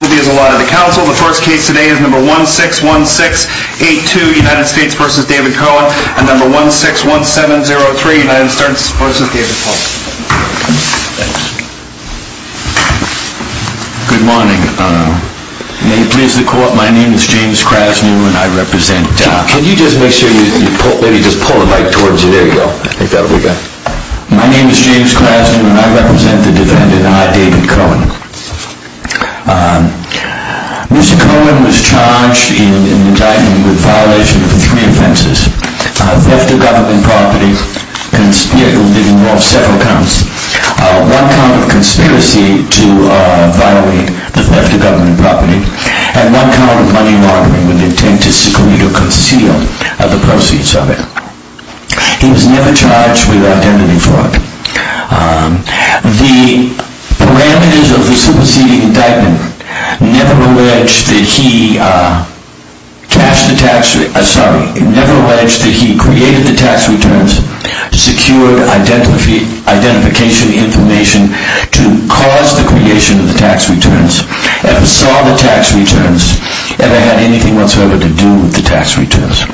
The first case today is number 161682 United States v. David Cohen and number 161703 United States v. David Polk. Good morning. May it please the court, my name is James Krasnew and I represent... Could you just make sure you pull, maybe just pull the mic towards you, there you go. I think that'll be good. My name is James Krasnew and I represent the defendant, I, David Cohen. Mr. Cohen was charged in indictment with violation of three offenses. Theft of government property, it involved several counts. One count of conspiracy to violate the theft of government property. And one count of money laundering with intent to seclude or conceal the proceeds of it. He was never charged with identity fraud. The parameters of the superseding indictment never alleged that he cashed the tax, sorry, never alleged that he created the tax returns, secured identification information to cause the creation of the tax returns, ever saw the tax returns, ever had anything whatsoever to do with the tax returns.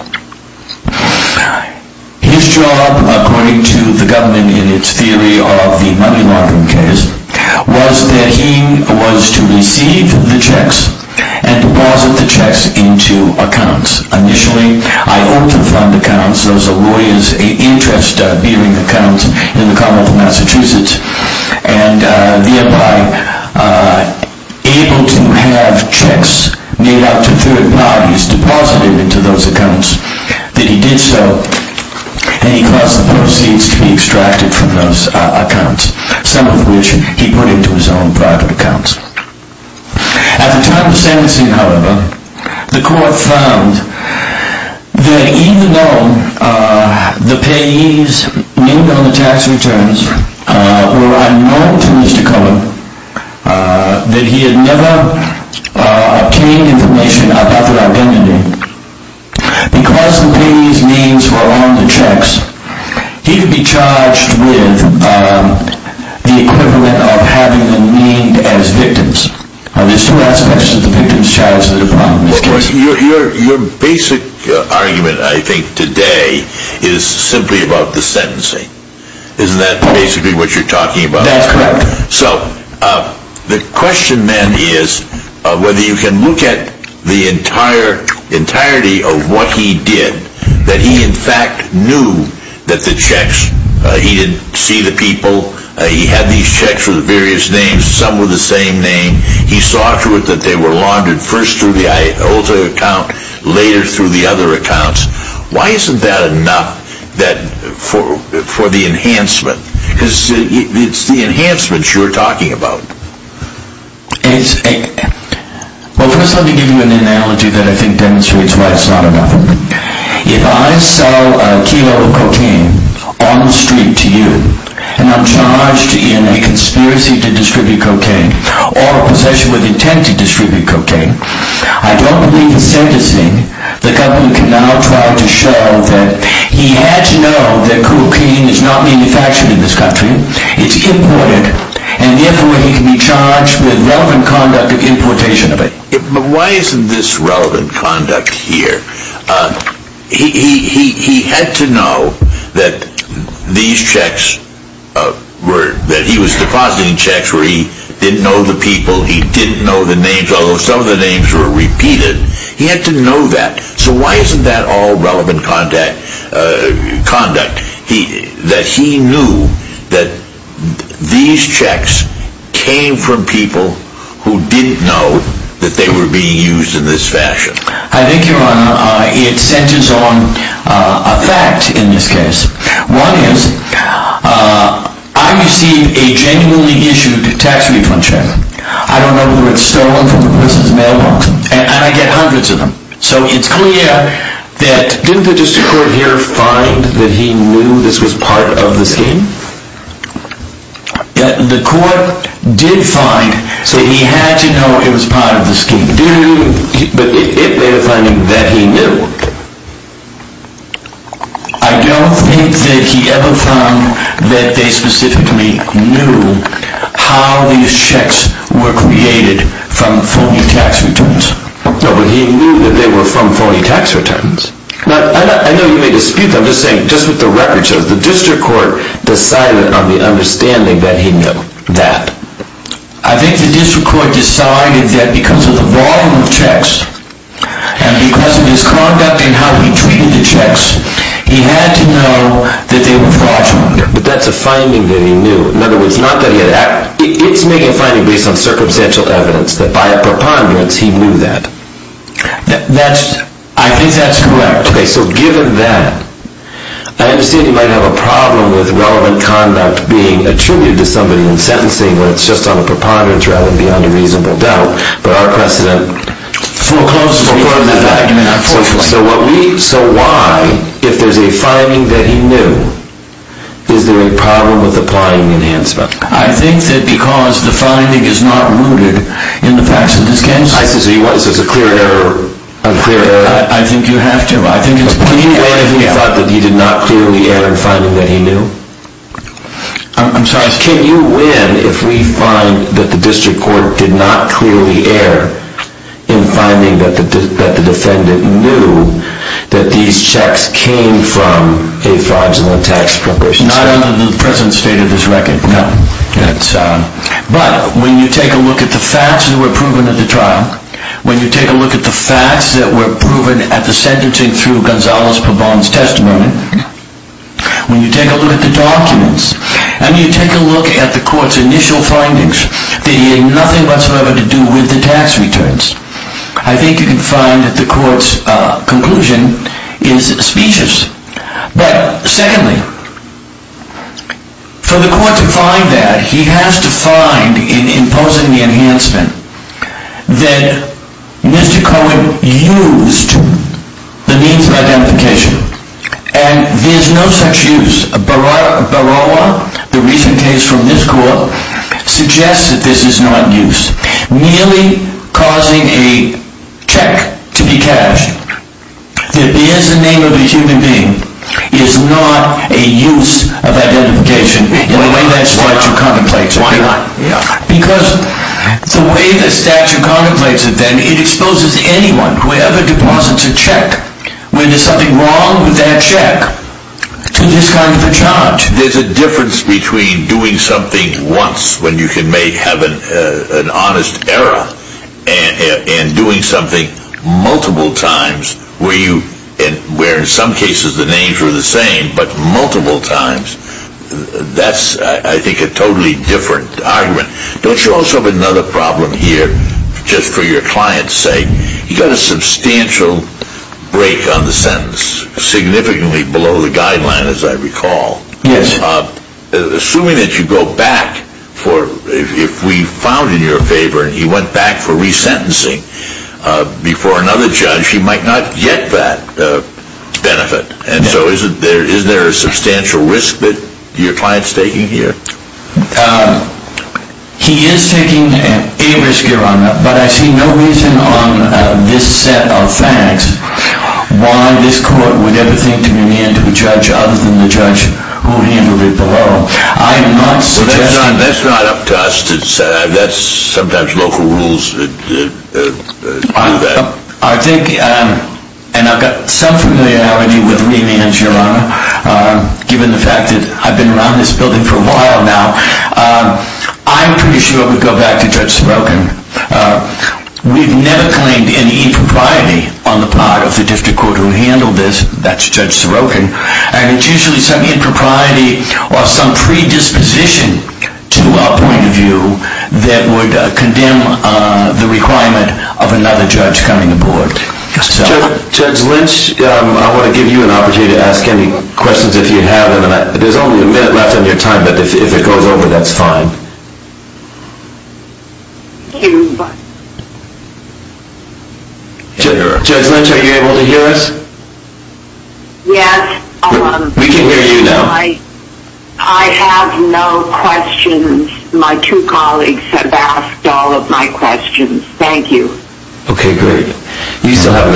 His job, according to the government in its theory of the money laundering case, was that he was to receive the checks and deposit the checks into accounts. Initially, I owed the fund accounts, those are lawyers' interest-bearing accounts in the Commonwealth of Massachusetts, and thereby able to have checks made up to third parties deposited into those accounts. That he did so, and he caused the proceeds to be extracted from those accounts, some of which he put into his own private accounts. At the time of the sentencing, however, the court found that even though the payees named on the tax returns were unknown to Mr. Cohen, that he had never obtained information about their identity, because the payees' names were on the checks, he could be charged with the equivalent of having them named as victims. There's two aspects to the victims' charges that are probably misconstrued. Your basic argument, I think, today is simply about the sentencing. Isn't that basically what you're talking about? That's correct. So, the question then is whether you can look at the entirety of what he did, that he in fact knew that the checks, he didn't see the people, he had these checks with various names, some with the same name, he saw to it that they were laundered first through the IOTA account, later through the other accounts. Why isn't that enough for the enhancement? Because it's the enhancement you're talking about. Well, first let me give you an analogy that I think demonstrates why it's not enough. If I sell a kilo of cocaine on the street to you, and I'm charged in a conspiracy to distribute cocaine, or a possession with intent to distribute cocaine, I don't believe in sentencing. The government can now try to show that he had to know that cocaine is not manufactured in this country, it's imported, and therefore he can be charged with relevant conduct of importation of it. But why isn't this relevant conduct here? He had to know that these checks were, that he was depositing checks where he didn't know the people, he didn't know the names, although some of the names were repeated, he had to know that. So why isn't that all relevant conduct? That he knew that these checks came from people who didn't know that they were being used in this fashion. I think, Your Honor, it centers on a fact in this case. One is, I received a genuinely issued tax refund check. I don't know who had stolen from the person's mailbox. And I get hundreds of them. So it's clear that... Didn't the district court here find that he knew this was part of the scheme? The court did find that he had to know it was part of the scheme. Didn't he? But they were finding that he knew. I don't think that he ever found that they specifically knew how these checks were created from phony tax returns. No, but he knew that they were from phony tax returns. I know you may dispute that. I'm just saying, just with the record shows, the district court decided on the understanding that he knew that. I think the district court decided that because of the volume of checks and because of his conduct and how he treated the checks, he had to know that they were fraudulent. But that's a finding that he knew. In other words, it's making a finding based on circumstantial evidence that by a preponderance he knew that. I think that's correct. Okay, so given that, I understand you might have a problem with relevant conduct being attributed to somebody in sentencing when it's just on a preponderance rather than beyond a reasonable doubt. But our precedent forecloses on that argument, unfortunately. So why, if there's a finding that he knew, is there a problem with applying the enhancement? I think that because the finding is not rooted in the facts of this case. So it's a clear error? I think you have to. Can you win if we find that he did not clearly add a finding that he knew? I'm sorry? Can you win if we find that the district court did not clearly err in finding that the defendant knew that these checks came from a fraudulent tax preparation? Not under the present state of this record, no. But when you take a look at the facts that were proven at the trial, when you take a look at the facts that were proven at the sentencing through Gonzalo Pabon's testimony, when you take a look at the documents, and you take a look at the court's initial findings, that he had nothing whatsoever to do with the tax returns, I think you can find that the court's conclusion is specious. But secondly, for the court to find that, he has to find in imposing the enhancement that Mr. Cohen used the means of identification. And there's no such use. Barawa, the recent case from this court, suggests that this is not use. Merely causing a check to be cashed that is the name of a human being is not a use of identification in a way that's far too commonplace. Why not? Because the way the statute contemplates it then, it exposes anyone, whoever deposits a check, when there's something wrong with that check, to this kind of a charge. There's a difference between doing something once, when you can have an honest error, and doing something multiple times, where in some cases the names are the same, but multiple times, that's I think a totally different argument. Don't you also have another problem here, just for your client's sake? You've got a substantial break on the sentence, significantly below the guideline as I recall. Yes. Assuming that you go back, if we found in your favor, and he went back for resentencing before another judge, he might not get that benefit. And so is there a substantial risk that your client's taking here? He is taking a risk, Your Honor, but I see no reason on this set of facts why this court would ever think to remand to a judge other than the judge who handled it below. I am not suggesting... Well, that's not up to us to decide. That's sometimes local rules do that. I think, and I've got some familiarity with remands, Your Honor, given the fact that I've been around this building for a while now, I'm pretty sure it would go back to Judge Sorokin. We've never claimed any impropriety on the part of the district court who handled this. That's Judge Sorokin. And it's usually some impropriety or some predisposition to our point of view that would condemn the requirement of another judge coming aboard. Judge Lynch, I want to give you an opportunity to ask any questions if you have. There's only a minute left on your time, but if it goes over, that's fine. Thank you. Judge Lynch, are you able to hear us? Yes. We can hear you now. I have no questions. My two colleagues have asked all of my questions. Thank you. Okay, great. You still have,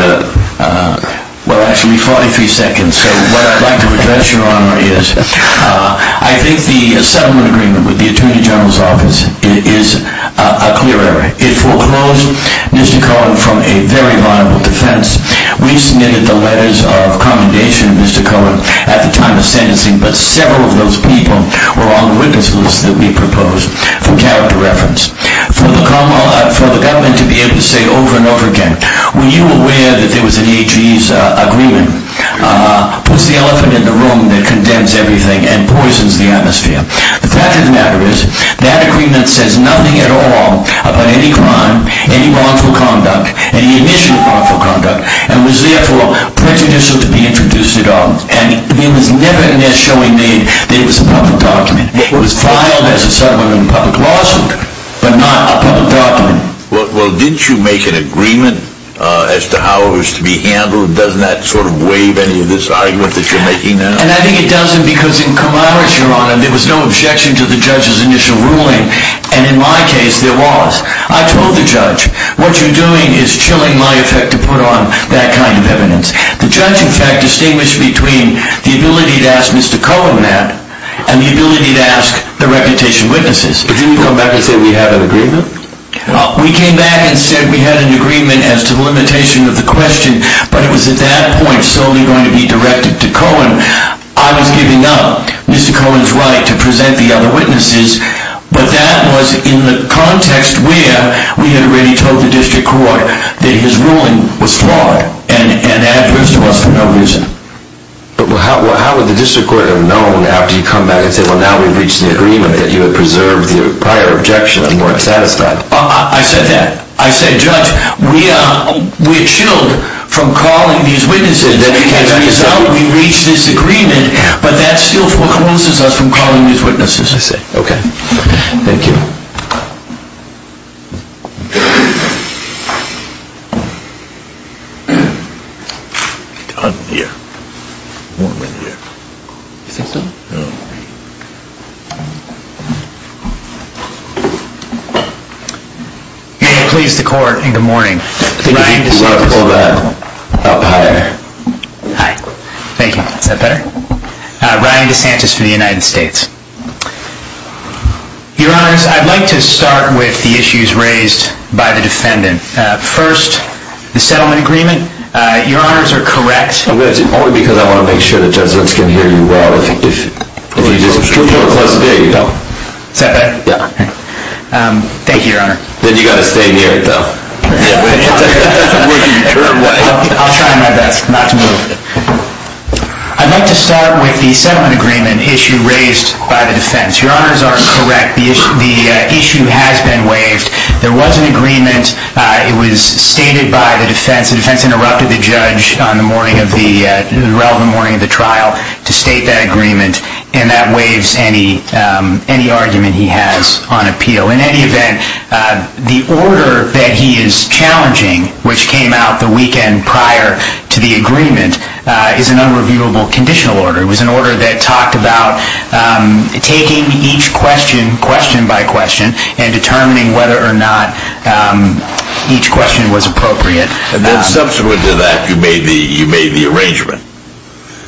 well, actually, 43 seconds. So what I'd like to address, Your Honor, is I think the settlement agreement with the Attorney General's office is a clear error. It foreclosed Mr. Cohen from a very liable defense. We submitted the letters of commendation to Mr. Cohen at the time of sentencing, but several of those people were on the witness list that we proposed for character reference. For the government to be able to say over and over again, were you aware that there was an AG's agreement, puts the elephant in the room that condemns everything and poisons the atmosphere. The fact of the matter is that agreement says nothing at all about any crime, any wrongful conduct, any initial wrongful conduct, and was therefore prejudicial to be introduced at all. And it was never in there showing that it was a public document. It was filed as a settlement in a public lawsuit, but not a public document. Well, didn't you make an agreement as to how it was to be handled? Doesn't that sort of waive any of this argument that you're making now? And I think it doesn't because in camaraderie, Your Honor, there was no objection to the judge's initial ruling. And in my case, there was. I told the judge, what you're doing is chilling my effect to put on that kind of evidence. The judge, in fact, distinguished between the ability to ask Mr. Cohen that, and the ability to ask the reputation witnesses. But didn't he come back and say we had an agreement? We came back and said we had an agreement as to the limitation of the question, but it was at that point solely going to be directed to Cohen. I was giving up Mr. Cohen's right to present the other witnesses, but that was in the context where we had already told the district court that his ruling was flawed and adverse to us for no reason. But how would the district court have known after you'd come back and said, well, now we've reached an agreement that you had preserved the prior objection and weren't satisfied? I said that. I said, Judge, we're chilled from calling these witnesses. As a result, we reached this agreement, but that still coerces us from calling these witnesses. I see. Okay. Thank you. I'm here. I'm in here. You think so? I don't know. May it please the Court in good morning. I think if you could pull that up higher. Hi. Thank you. Is that better? Ryan DeSantis for the United States. Your Honors, I'd like to start with the issues raised by the defendant. First, the settlement agreement. Your Honors are correct. I'm going to do it only because I want to make sure the Judgements can hear you well. If you disagree, we'll close the hearing. Is that better? Yeah. Thank you, Your Honor. Then you've got to stay near it, though. I'll try my best not to move it. I'd like to start with the settlement agreement issue raised by the defense. Your Honors are correct. The issue has been waived. There was an agreement. It was stated by the defense. The defense interrupted the Judge on the relevant morning of the trial to state that agreement, and that waives any argument he has on appeal. In any event, the order that he is challenging, which came out the weekend prior to the agreement, is an unreviewable conditional order. It was an order that talked about taking each question question by question and determining whether or not each question was appropriate. Subsequent to that, you made the arrangement.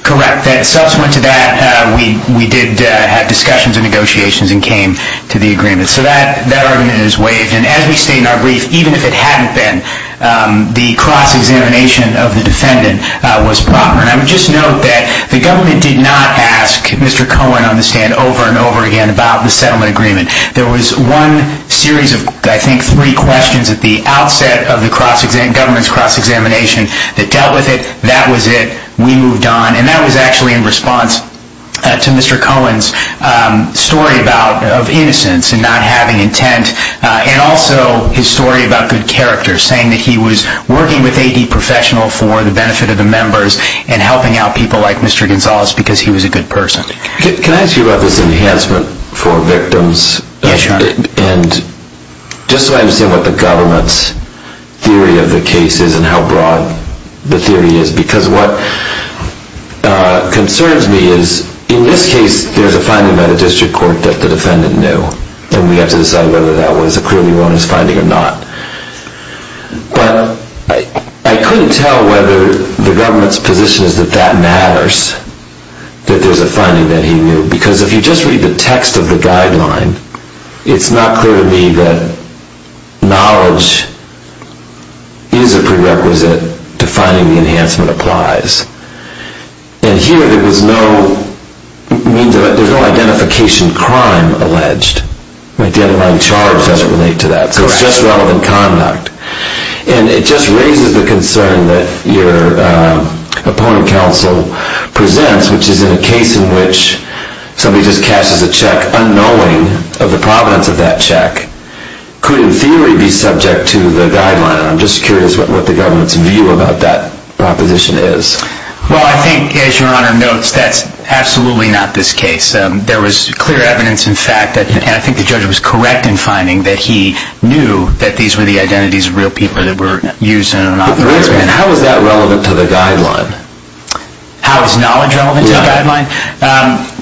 Correct. Subsequent to that, we did have discussions and negotiations and came to the agreement. So that argument is waived. As we state in our brief, even if it hadn't been, the cross-examination of the defendant was proper. I would just note that the government did not ask Mr. Cohen on the stand over and over again about the settlement agreement. There was one series of, I think, three questions at the outset of the government's cross-examination that dealt with it. That was it. We moved on. That was actually in response to Mr. Cohen's story of innocence and not having intent, and also his story about good character, saying that he was working with a professional for the benefit of the members and helping out people like Mr. Gonzalez because he was a good person. Can I ask you about this enhancement for victims? Yes, sure. Just so I understand what the government's theory of the case is and how broad the theory is, because what concerns me is, in this case, there's a finding by the district court that the defendant knew, and we have to decide whether that was a clearly wrongness finding or not. But I couldn't tell whether the government's position is that that matters, that there's a finding that he knew, because if you just read the text of the guideline, it's not clear to me that knowledge is a prerequisite to finding the enhancement applies. And here, there was no identification crime alleged. The underlying charge doesn't relate to that. So it's just relevant conduct. And it just raises the concern that your opponent counsel presents, which is in a case in which somebody just cashes a check unknowing of the provenance of that check, could in theory be subject to the guideline. And I'm just curious what the government's view about that proposition is. Well, I think, as Your Honor notes, that's absolutely not this case. There was clear evidence, in fact, and I think the judge was correct in finding, that he knew that these were the identities of real people that were used in an operation. How is that relevant to the guideline? How is knowledge relevant to the guideline?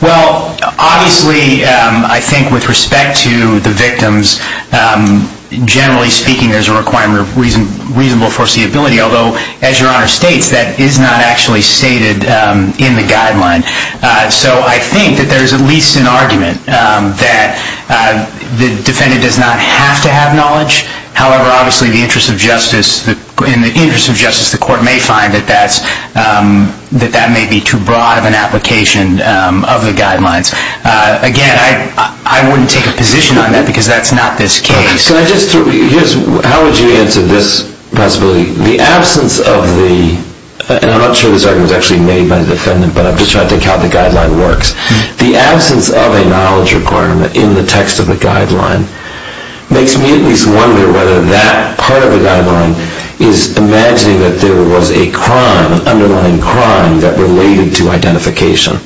Well, obviously, I think with respect to the victims, generally speaking, there's a requirement of reasonable foreseeability, although, as Your Honor states, that is not actually stated in the guideline. So I think that there's at least an argument that the defendant does not have to have knowledge. However, obviously, in the interest of justice, the court may find that that may be too broad of an application of the guidelines. Again, I wouldn't take a position on that because that's not this case. How would you answer this possibility? The absence of the, and I'm not sure this argument was actually made by the defendant, but I'm just trying to think how the guideline works. The absence of a knowledge requirement in the text of the guideline makes me at least wonder whether that part of the guideline is imagining that there was a crime, an underlying crime, that related to identification.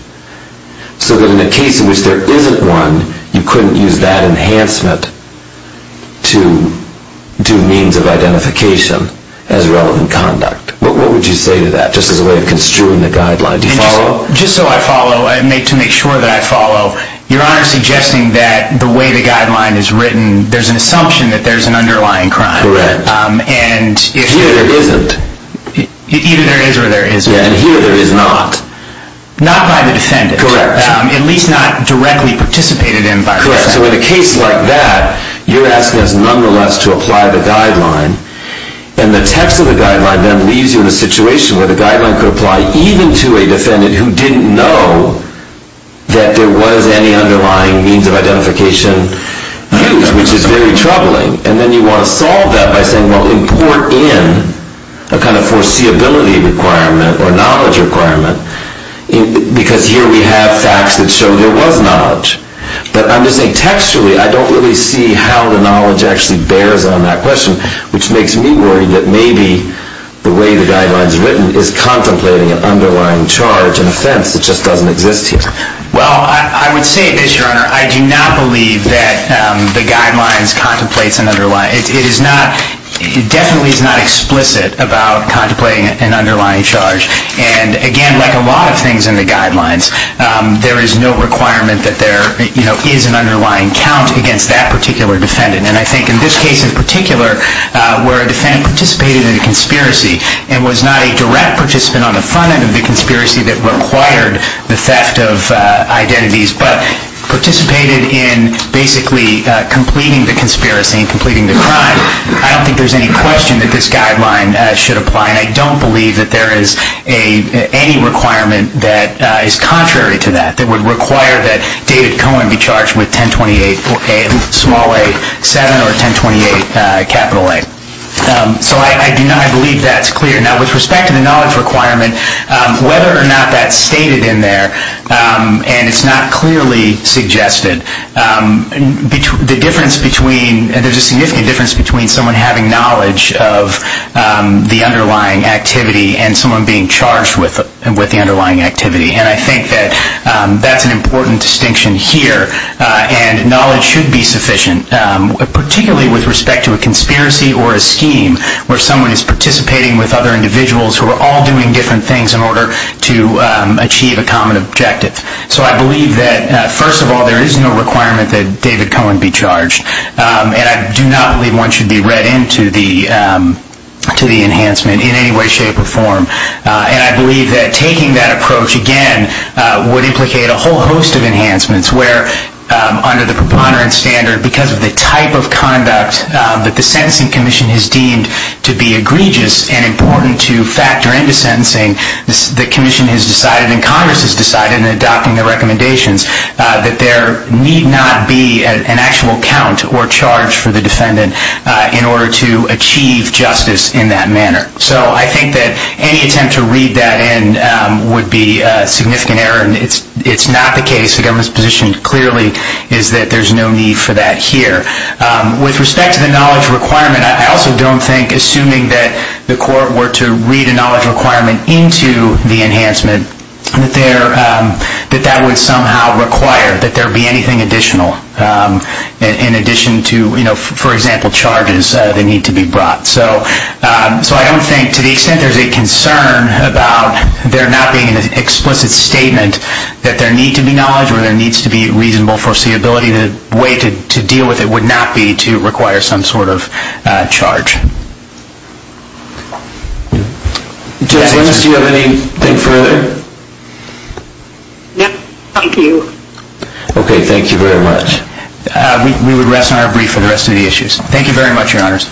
So that in a case in which there isn't one, you couldn't use that enhancement to do means of identification as relevant conduct. What would you say to that, just as a way of construing the guideline? Do you follow? Just so I follow, to make sure that I follow, your Honor is suggesting that the way the guideline is written, there's an assumption that there's an underlying crime. Correct. Here there isn't. Either there is or there isn't. Yeah, and here there is not. Not by the defendant. Correct. At least not directly participated in by the defendant. Correct. So in a case like that, you're asking us nonetheless to apply the guideline, and the text of the guideline then leaves you in a situation where the guideline could apply even to a defendant who didn't know that there was any underlying means of identification used, which is very troubling. And then you want to solve that by saying, well, import in a kind of foreseeability requirement or knowledge requirement, because here we have facts that show there was knowledge. But I'm just saying, textually, I don't really see how the knowledge actually bears on that question, which makes me worried that maybe the way the guideline is written is contemplating an underlying charge and offense that just doesn't exist here. Well, I would say this, Your Honor. I do not believe that the guidelines contemplates an underlying. It definitely is not explicit about contemplating an underlying charge. And, again, like a lot of things in the guidelines, there is no requirement that there is an underlying count against that particular defendant. And I think in this case in particular, where a defendant participated in a conspiracy and was not a direct participant on the front end of the conspiracy that required the theft of identities but participated in basically completing the conspiracy and completing the crime, I don't think there's any question that this guideline should apply. And I don't believe that there is any requirement that is contrary to that, that would require that David Cohen be charged with 1028, small a, 7, or 1028, capital A. So I do not believe that's clear. Now, with respect to the knowledge requirement, whether or not that's stated in there and it's not clearly suggested, the difference between, there's a significant difference between someone having knowledge of the underlying activity and someone being charged with the underlying activity. And I think that that's an important distinction here. And knowledge should be sufficient, particularly with respect to a conspiracy or a scheme where someone is participating with other individuals who are all doing different things in order to achieve a common objective. So I believe that, first of all, there is no requirement that David Cohen be charged. And I do not believe one should be read into the enhancement in any way, shape, or form. And I believe that taking that approach, again, would implicate a whole host of enhancements where under the preponderance standard, because of the type of conduct that the Sentencing Commission has deemed to be egregious and important to factor into sentencing, the Commission has decided and Congress has decided in adopting the recommendations that there need not be an actual count or charge for the defendant in order to achieve justice in that manner. So I think that any attempt to read that in would be a significant error. And it's not the case. The government's position clearly is that there's no need for that here. With respect to the knowledge requirement, I also don't think, assuming that the court were to read a knowledge requirement into the enhancement, that that would somehow require that there be anything additional in addition to, for example, charges that need to be brought. So I don't think, to the extent there's a concern about there not being an explicit statement that there need to be knowledge or there needs to be reasonable foreseeability, the way to deal with it would not be to require some sort of charge. Judge Williams, do you have anything further? No, thank you. Okay, thank you very much. We would rest on our brief for the rest of the issues. Thank you very much, Your Honors.